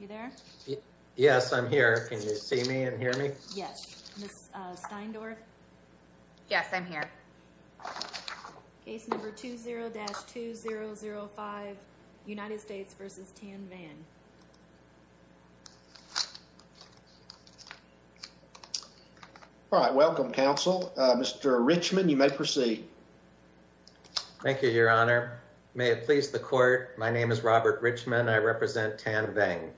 You there? Yes, I'm here. Can you see me and hear me? Yes. Ms. Steindorf? Yes, I'm here. Case number 20-2005, United States v. Tan Vang. All right. Welcome, counsel. Mr. Richmond, you may proceed. Thank you, Your Honor. May it please the Court, my name is Robert Richmond. I represent Tan Vang.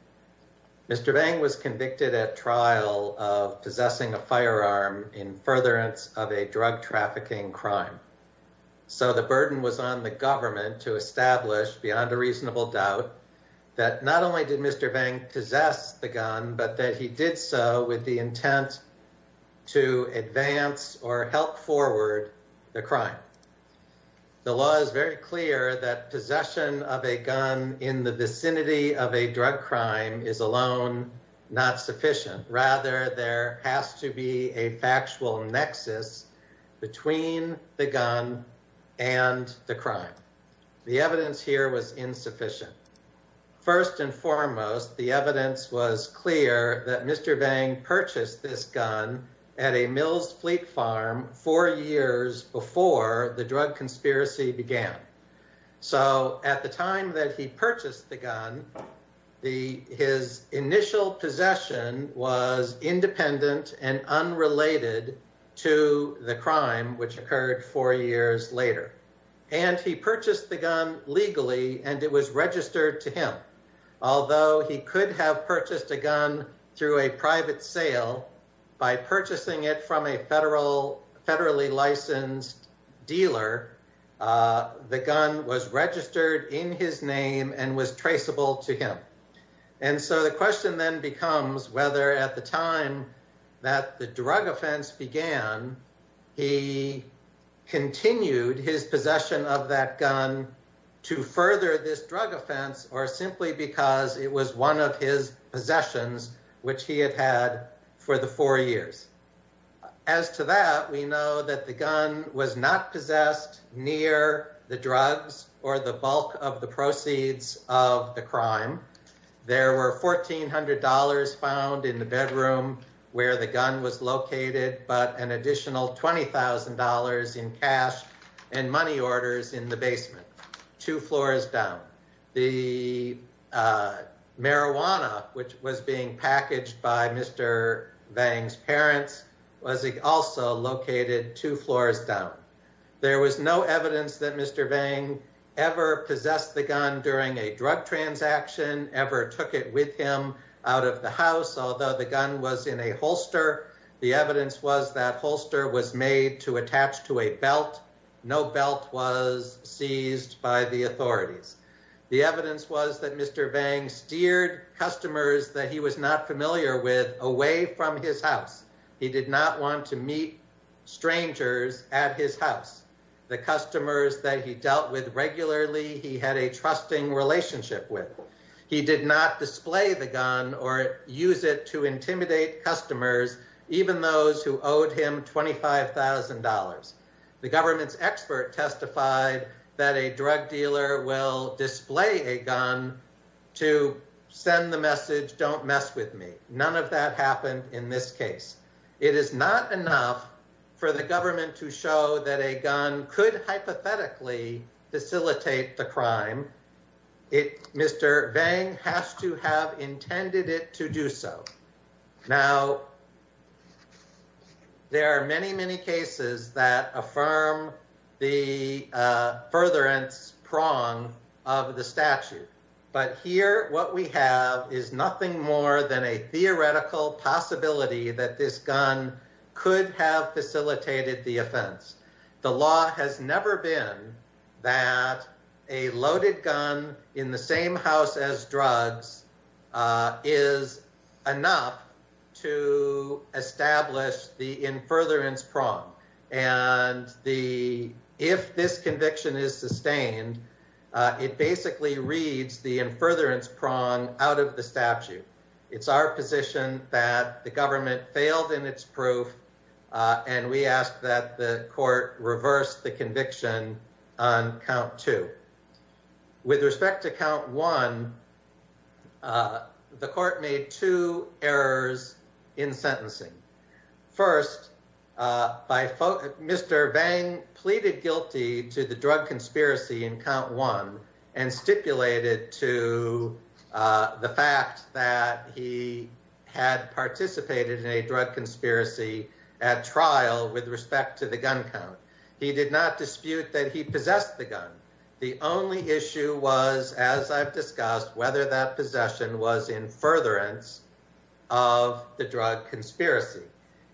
Mr. Vang was convicted at trial of possessing a firearm in furtherance of a drug trafficking crime. So the burden was on the government to establish, beyond a reasonable doubt, that not only did Mr. Vang possess the gun, but that he did so with the intent to advance or help forward the crime. The law is very clear that possession of a gun in the vicinity of a drug crime is alone not sufficient. Rather, there has to be a factual nexus between the gun and the crime. The evidence here was insufficient. First and foremost, the evidence was clear that Mr. Vang purchased this gun at a Mills Fleet farm four years before the drug conspiracy began. So at the time that he purchased the gun, his initial possession was independent and unrelated to the crime which occurred four years later. And he purchased the a gun through a private sale. By purchasing it from a federally licensed dealer, the gun was registered in his name and was traceable to him. And so the question then becomes whether at the time that the drug offense began, he continued his possession of that gun to further this drug offense or simply because it was one of his possessions which he had had for the four years. As to that, we know that the gun was not possessed near the drugs or the bulk of the proceeds of the crime. There were $1,400 found in the bedroom where the gun was located, but an additional $20,000 in cash and money orders in the basement, two floors down. The marijuana which was being packaged by Mr. Vang's parents was also located two floors down. There was no evidence that Mr. Vang ever possessed the gun during a drug transaction, ever took it with him out of the house, although the gun was in a holster. The evidence was that holster was made to attach to a belt. No belt was seized by the authorities. The evidence was that Mr. Vang steered customers that he was not familiar with away from his house. He did not want to meet strangers at his house. The customers that he dealt with regularly, he had a trusting relationship with. He did not display the gun or use it to intimidate customers, even those who owed him $25,000. The government's expert testified that a drug dealer will display a gun to send the message, don't mess with me. None of that happened in this case. It is not enough for the government to show that a gun could hypothetically facilitate the crime. Mr. Vang has to have intended it to do so. Now, there are many, many cases that affirm the furtherance prong of the statute, but here what we have is nothing more than a theoretical possibility that this gun could have facilitated the offense. The law has never been that a loaded gun in the same house as drugs is enough to establish the in furtherance prong. If this conviction is sustained, it basically reads the in furtherance prong out of the statute. It's our position that the government failed in its proof, and we ask that the court reverse the conviction on count two. With respect to count one, the court made two errors in sentencing. First, Mr. Vang pleaded guilty to the drug conspiracy in count one and stipulated to the fact that he had participated in a drug conspiracy at trial with respect to the gun count. He did not dispute that he possessed the gun. The only issue was, as I've discussed, whether that possession was in furtherance of the drug conspiracy.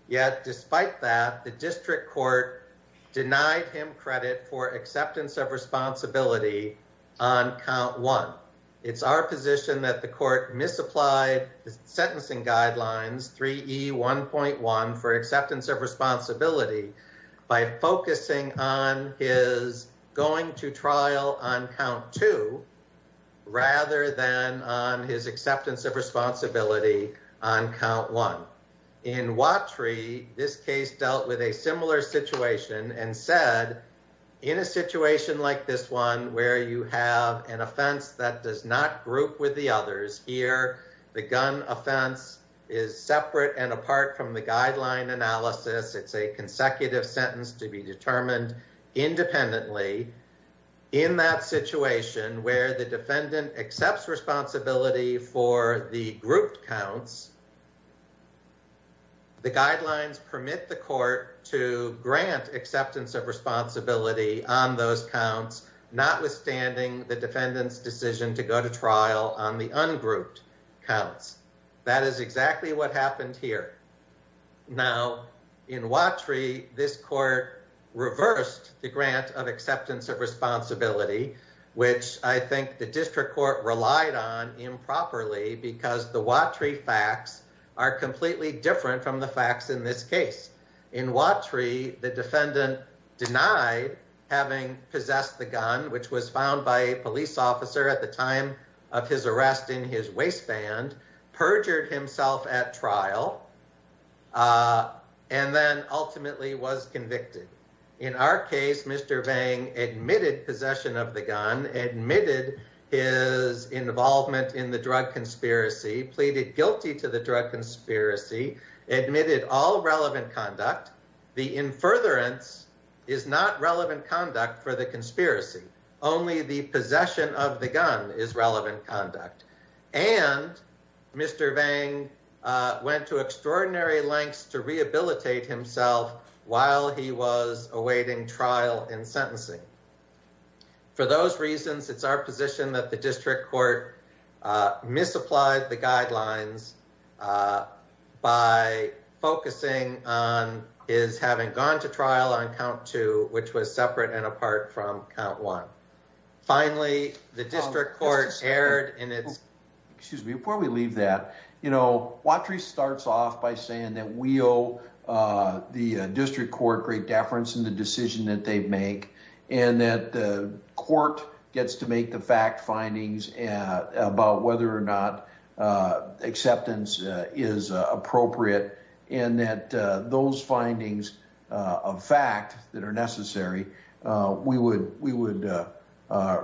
Yet, despite that, the district court denied him credit for acceptance of responsibility on count one. It's our position that the court misapplied the sentencing guidelines 3E1.1 for acceptance of responsibility by focusing on his going to trial on count two rather than on his acceptance of responsibility on count one. In Watry, this case dealt with a situation like this one where you have an offense that does not group with the others. Here, the gun offense is separate and apart from the guideline analysis. It's a consecutive sentence to be determined independently. In that situation where the defendant accepts responsibility for the counts, notwithstanding the defendant's decision to go to trial on the ungrouped counts. That is exactly what happened here. Now, in Watry, this court reversed the grant of acceptance of responsibility, which I think the district court relied on improperly because the Watry facts are completely different from the facts in this case. In Watry, the defendant denied having possessed the gun, which was found by a police officer at the time of his arrest in his waistband, perjured himself at trial, and then ultimately was convicted. In our case, Mr. Vang admitted possession of the gun, admitted his involvement in the drug conspiracy, pleaded guilty to the drug conspiracy, admitted all relevant conduct. The in furtherance is not relevant conduct for the conspiracy. Only the possession of the gun is relevant conduct. And Mr. Vang went to extraordinary lengths to rehabilitate himself while he was awaiting trial and sentencing. For those reasons, it's our position that the district court misapplied the guidelines by focusing on his having gone to trial on count two, which was separate and apart from count one. Finally, the district court erred in its... Excuse me, before we leave that, you know, Watry starts off by saying that we owe the district court great deference in the decision that they make and that the court gets to make the fact findings about whether or not acceptance is appropriate and that those findings of fact that are necessary, we would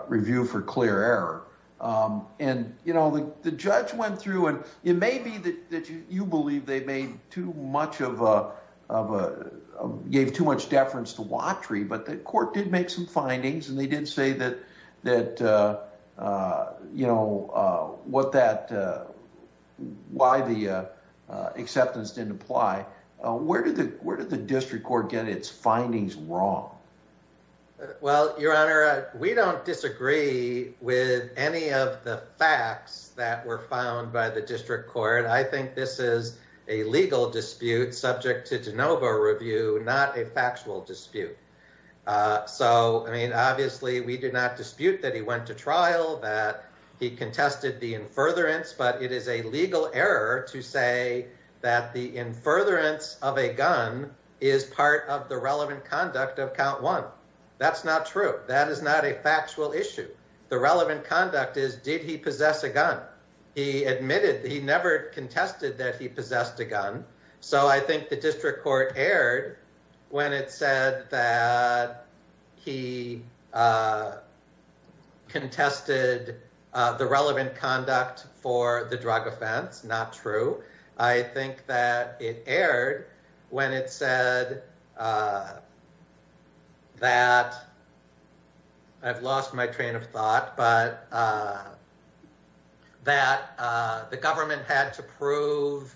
review for clear error. The judge went through and it may be that you believe they gave too much deference to Watry, but the court did make some that, uh, uh, you know, uh, what that, uh, why the, uh, uh, acceptance didn't apply. Uh, where did the, where did the district court get its findings wrong? Well, your honor, we don't disagree with any of the facts that were found by the district court. I think this is a legal dispute subject to DeNova review, not a factual dispute. Uh, I mean, obviously we did not dispute that he went to trial, that he contested the in furtherance, but it is a legal error to say that the in furtherance of a gun is part of the relevant conduct of count one. That's not true. That is not a factual issue. The relevant conduct is, did he possess a gun? He admitted that he never contested that he uh, contested, uh, the relevant conduct for the drug offense. Not true. I think that it aired when it said, uh, that I've lost my train of thought, but, uh, that, uh, the government had to prove,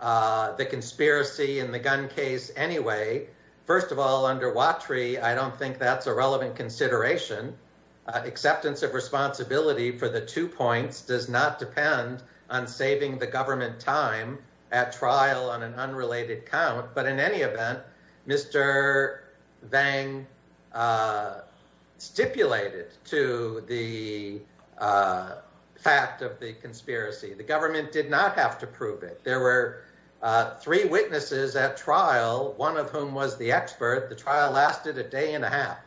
uh, the conspiracy in the gun case anyway. First of all, under Watrie, I don't think that's a relevant consideration. Uh, acceptance of responsibility for the two points does not depend on saving the government time at trial on an unrelated count, but in any event, Mr. Vang, uh, stipulated to the, uh, fact of the conspiracy, the government did not have to prove it. There were, uh, three witnesses at trial, one of whom was the expert. The trial lasted a day and a half.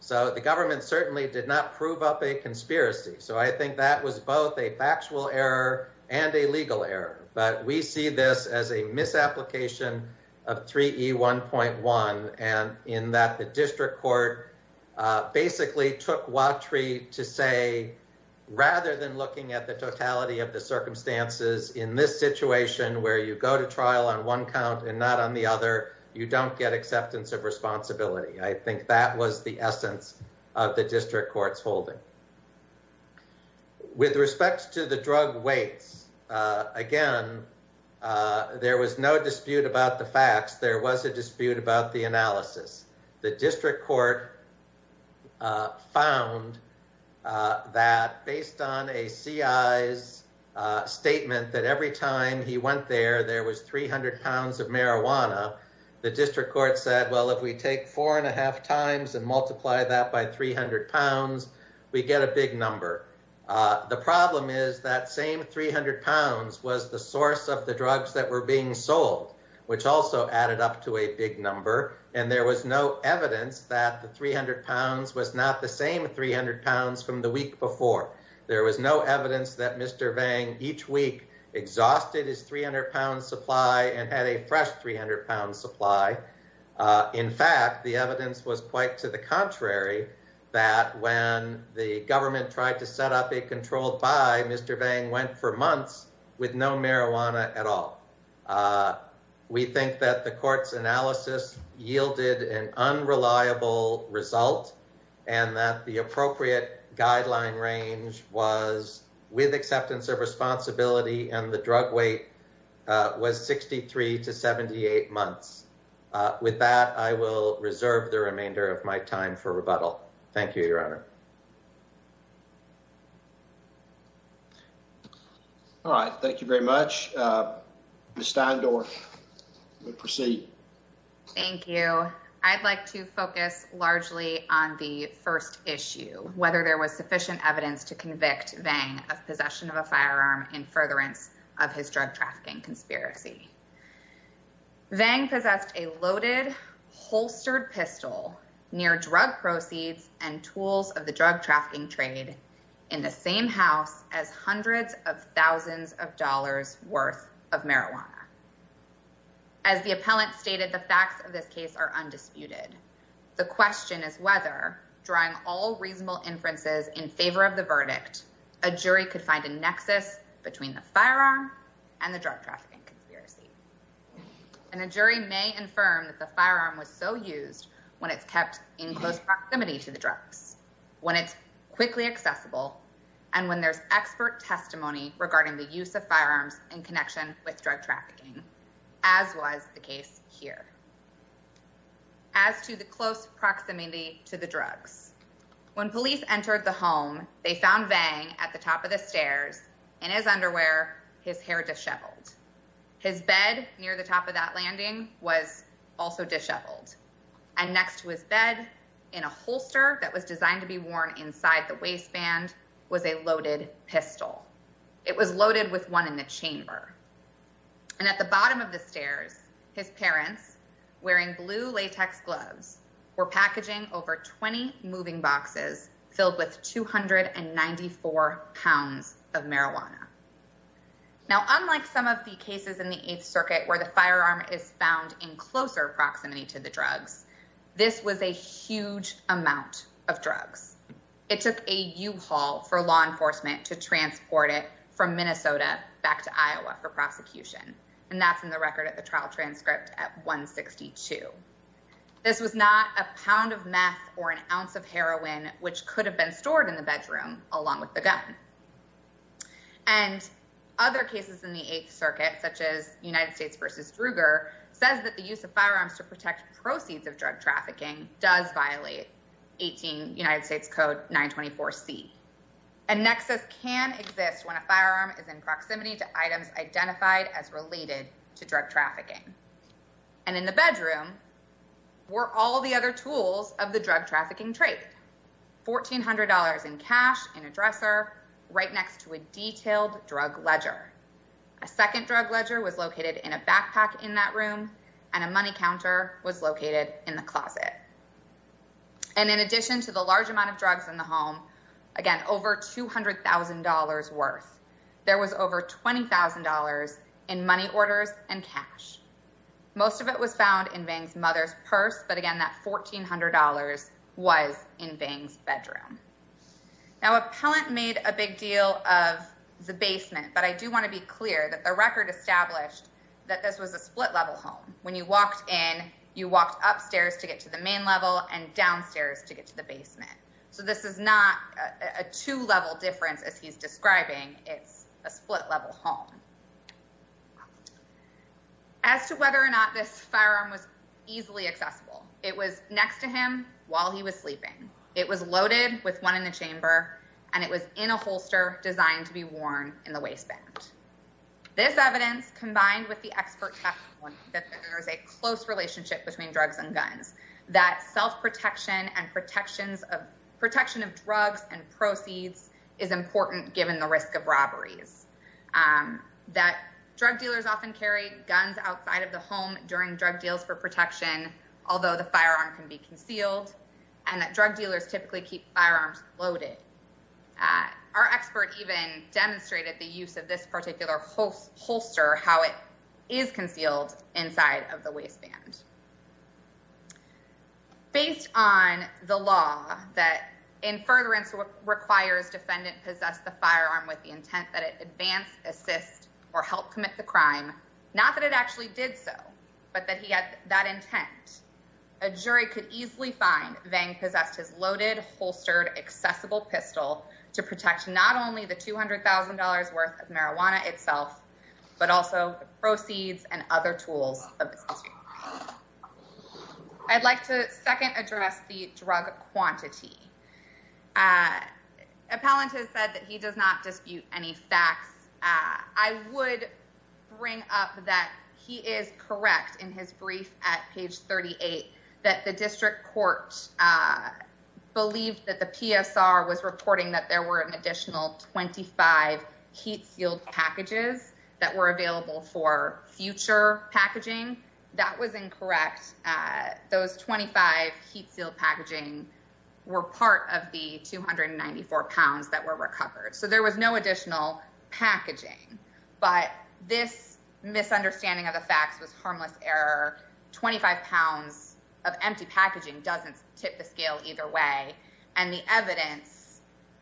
So the government certainly did not prove up a conspiracy. So I think that was both a factual error and a legal error, but we see this as a misapplication of 3E1.1 and in that the district court, uh, basically took Watrie to say, rather than looking at the totality of the circumstances in this situation where you go to trial on one count and not on the other, you don't get acceptance of responsibility. I think that was the essence of the district court's holding. With respect to the drug weights, uh, again, uh, there was no dispute about the facts. There was a dispute about the analysis. The district court, uh, found, uh, that based on a CI's, uh, statement that every time he went there, there was 300 pounds of marijuana. The district court said, well, if we take four and a same 300 pounds was the source of the drugs that were being sold, which also added up to a big number. And there was no evidence that the 300 pounds was not the same 300 pounds from the week before. There was no evidence that Mr. Vang each week exhausted his 300 pounds supply and had a fresh 300 pounds supply. Uh, in fact, the evidence was quite to the contrary that when the government tried to set up a controlled by Mr. Vang went for months with no marijuana at all. Uh, we think that the court's analysis yielded an unreliable result and that the appropriate guideline range was with acceptance of responsibility and the drug weight was 63 to 78 months. Uh, with that, I will reserve the remainder of my time for rebuttal. Thank you, Your Honor. All right. Thank you very much. Uh, Mr. Steindorf, you may proceed. Thank you. I'd like to focus largely on the first issue, whether there was sufficient evidence to convict Vang of possession of a firearm in furtherance of his drug trafficking conspiracy. Vang possessed a loaded holstered pistol near drug proceeds and tools of the drug trafficking trade in the same house as hundreds of thousands of dollars worth of marijuana. As the appellant stated, the facts of this case are undisputed. The question is whether drawing all reasonable inferences in favor of the verdict, a jury could find a nexus between the firearm and the drug conspiracy. And a jury may infirm that the firearm was so used when it's kept in close proximity to the drugs, when it's quickly accessible, and when there's expert testimony regarding the use of firearms in connection with drug trafficking, as was the case here. As to the close proximity to the drugs, when police entered the home, they found Vang at the His bed near the top of that landing was also disheveled. And next to his bed in a holster that was designed to be worn inside the waistband was a loaded pistol. It was loaded with one in the chamber. And at the bottom of the stairs, his parents, wearing blue latex gloves, were packaging over 20 moving boxes filled with 294 pounds of marijuana. Now, unlike some of the cases in the Eighth Circuit where the firearm is found in closer proximity to the drugs, this was a huge amount of drugs. It took a U-Haul for law enforcement to transport it from Minnesota back to Iowa for prosecution. And that's in the record at the trial transcript at 162. This was not a pound of meth or an ounce of heroin, which could have been stored in the bedroom along with the gun. And other cases in the Eighth Circuit, such as United States versus Druger, says that the use of firearms to protect proceeds of drug trafficking does violate United States Code 924C. A nexus can exist when a firearm is in proximity to items identified as related to were all the other tools of the drug trafficking trade. $1,400 in cash in a dresser right next to a detailed drug ledger. A second drug ledger was located in a backpack in that room and a money counter was located in the closet. And in addition to the large amount of drugs in the home, again, over $200,000 worth, there was over $20,000 in money orders and cash. Most of it was found in purse, but again, that $1,400 was in Bing's bedroom. Now, Appellant made a big deal of the basement, but I do want to be clear that the record established that this was a split-level home. When you walked in, you walked upstairs to get to the main level and downstairs to get to the basement. So this is not a two-level difference as he's describing. It's a split-level home. As to whether or not this firearm was easily accessible, it was next to him while he was sleeping. It was loaded with one in the chamber, and it was in a holster designed to be worn in the waistband. This evidence combined with the expert testimony that there is a close relationship between drugs and guns, that self-protection and protection of drugs and proceeds is important, given the risk of robberies, that drug dealers often carry guns outside of the home during drug deals for protection, although the firearm can be concealed, and that drug dealers typically keep firearms loaded. Our expert even demonstrated the use of this particular holster, how it is concealed inside of the waistband. Based on the law that, in furtherance, requires defendant possess the firearm with the intent that it advance, assist, or help commit the crime, not that it actually did so, but that he had that intent, a jury could easily find Vang possessed his loaded, holstered, accessible pistol to protect not only the $200,000 worth of marijuana itself, but also proceeds and other tools of possession. I'd like to second address the drug quantity. Appellant has said that he does not dispute any facts. I would bring up that he is correct in his brief at page 38 that the district court believed that the PSR was reporting that there were an additional 25 heat-sealed packages that were available for future packaging. That was incorrect. Those 25 heat-sealed packaging were part of the 294 pounds that were recovered, so there was no additional packaging, but this misunderstanding of the facts was harmless error. 25 pounds of empty packaging doesn't tip the scale either way, and the evidence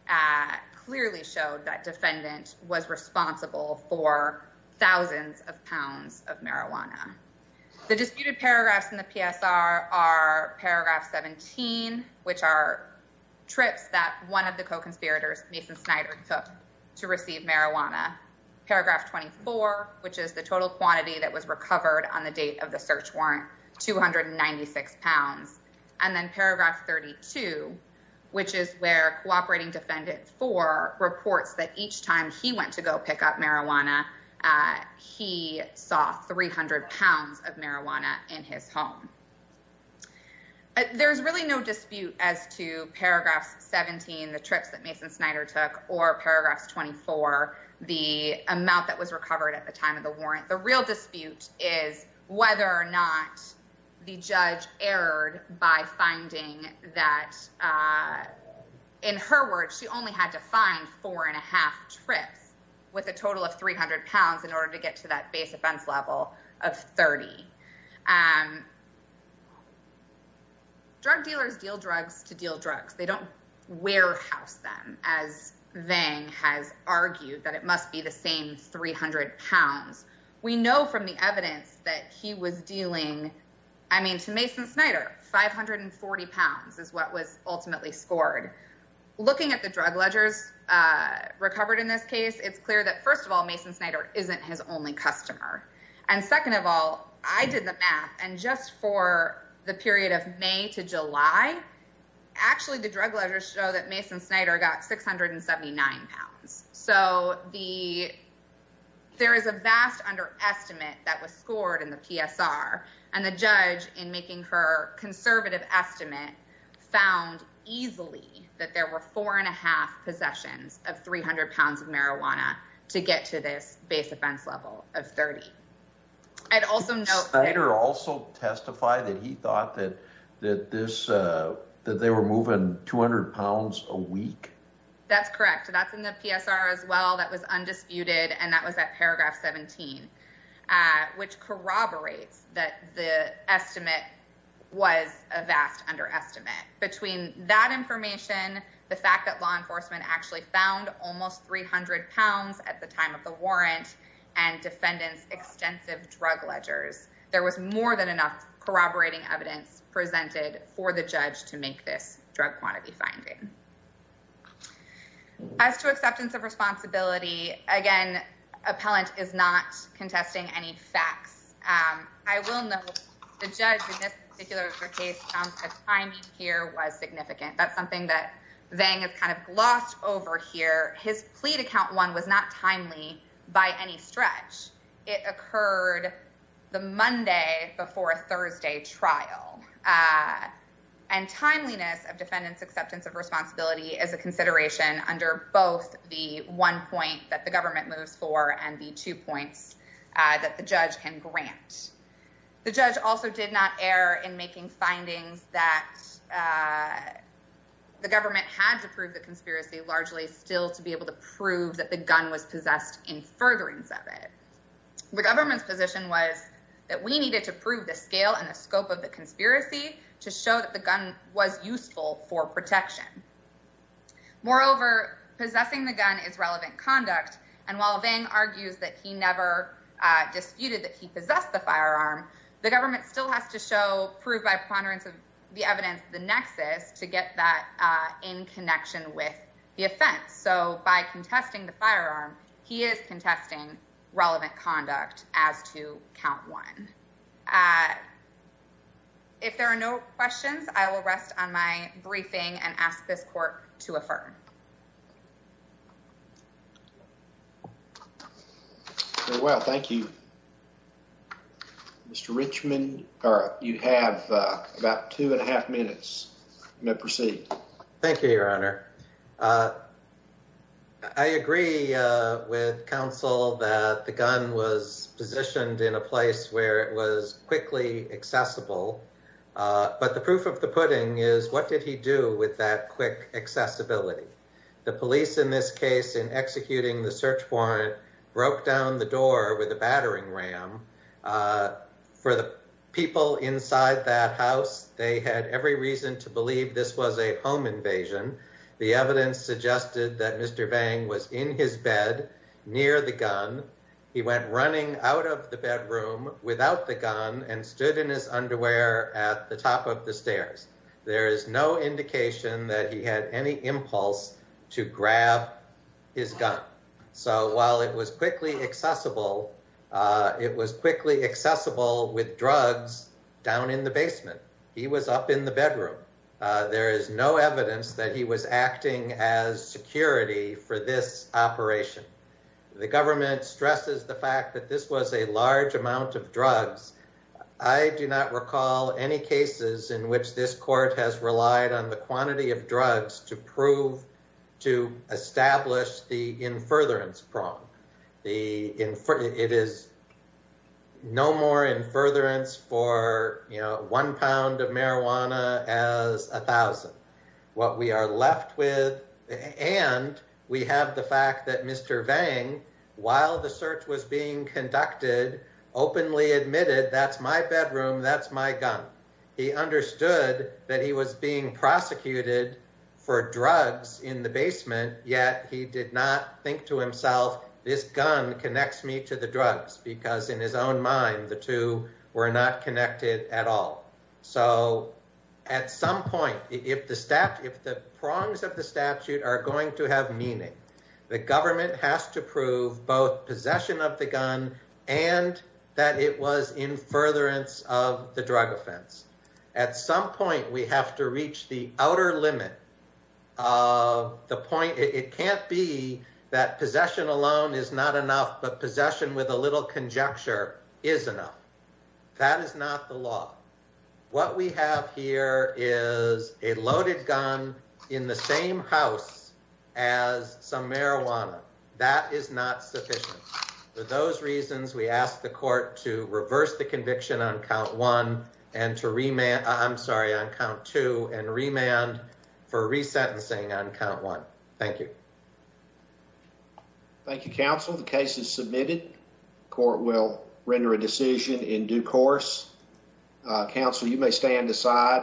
at clearly showed that defendant was responsible for thousands of pounds of marijuana. The disputed paragraphs in the PSR are paragraph 17, which are trips that one of the co-conspirators, Mason Snyder, took to receive marijuana, paragraph 24, which is the total quantity that was recovered on the date of the search warrant, 296 pounds, and then paragraph 32, which is where cooperating defendant four reports that each time he went to go pick up marijuana, he saw 300 pounds of marijuana in his home. There's really no dispute as to paragraphs 17, the trips that Mason Snyder took, or paragraphs 24, the amount that was recovered at the time of warrant. The real dispute is whether or not the judge erred by finding that, in her words, she only had to find four and a half trips with a total of 300 pounds in order to get to that base offense level of 30. Drug dealers deal drugs to deal drugs. They don't warehouse them, as we know from the evidence that he was dealing, I mean, to Mason Snyder, 540 pounds is what was ultimately scored. Looking at the drug ledgers recovered in this case, it's clear that, first of all, Mason Snyder isn't his only customer. Second of all, I did the math, and just for the period of May to July, actually the drug ledgers show that Mason Snyder got 679 pounds. So there is a vast underestimate that was scored in the PSR, and the judge, in making her conservative estimate, found easily that there were four and a half possessions of 300 pounds of marijuana to get to this base offense level of 30. I'd also note- Did Snyder also testify that he thought that they were moving 200 pounds a week? That's correct. That's in the PSR as well. That was undisputed, and that was at paragraph 17, which corroborates that the estimate was a vast underestimate. Between that information, the fact that law enforcement actually found almost 300 pounds at the time of the warrant, and defendants' extensive drug ledgers, there was more than enough corroborating evidence presented for the judge to make this drug quantity finding. As to acceptance of responsibility, again, appellant is not contesting any facts. I will note the judge, in this particular case, found that timing here was significant. That's something that Vang has kind of glossed over here. His plea to count one was not timely by any stretch. It occurred the Monday before a Thursday trial, and timeliness of defendants' acceptance of under both the one point that the government moves for and the two points that the judge can grant. The judge also did not err in making findings that the government had to prove the conspiracy, largely still to be able to prove that the gun was possessed in furtherance of it. The government's position was that we needed to prove the scale and the scope of the conspiracy to show that the gun was useful for protection. Moreover, possessing the gun is relevant conduct. While Vang argues that he never disputed that he possessed the firearm, the government still has to show, prove by preponderance of the evidence, the nexus to get that in connection with the offense. By contesting the firearm, he is contesting relevant conduct as to count one. If there are no questions, I will rest on my briefing and ask this court to affirm. Very well, thank you. Mr. Richmond, you have about two and a half minutes. You may proceed. Thank you, Your Honor. I agree with counsel that the gun was positioned in a place where it was quickly accessible, but the proof of the pudding is what did he do with that quick accessibility? The police, in this case, in executing the search warrant, broke down the door with a battering ram. For the people inside that house, they had every reason to believe this was a home invasion. The evidence suggested that Mr. Vang was in his bed near the gun. He went running out of the bedroom without the gun and stood in his underwear at the top of the stairs. There is no indication that he had any impulse to grab his gun. So while it was quickly accessible, it was quickly accessible with drugs down in the basement. He was up in the bedroom. There is no evidence that he was acting as security for this operation. The government stresses the fact that this was a large amount of drugs. I do not recall any cases in which this court has relied on the quantity of drugs to prove to establish the in furtherance prong. It is no more in furtherance for one pound of marijuana as a thousand. What we are left with, and we have the fact that Mr. Vang, while the search was being conducted, openly admitted, that's my bedroom, that's my gun. He understood that he was being prosecuted for drugs in the basement, yet he did not think to himself, this gun connects me to the drugs. Because in his own mind, the two were not connected at all. So at some point, if the prongs of the statute are going to have meaning, the government has to prove both possession of the gun and that it was in furtherance of the drug offense. At some point, we have to reach the outer limit. It can't be that possession alone is not enough, but possession with a little conjecture is enough. That is not the law. What we have here is a loaded gun in the same house as some marijuana. That is not sufficient. For those reasons, we ask the court to reverse the conviction on count one and to remand, I'm sorry, on count two and remand for resentencing on count one. Thank you. Thank you, counsel. The case is submitted. Court will render a decision in due course. Counsel, you may stand aside.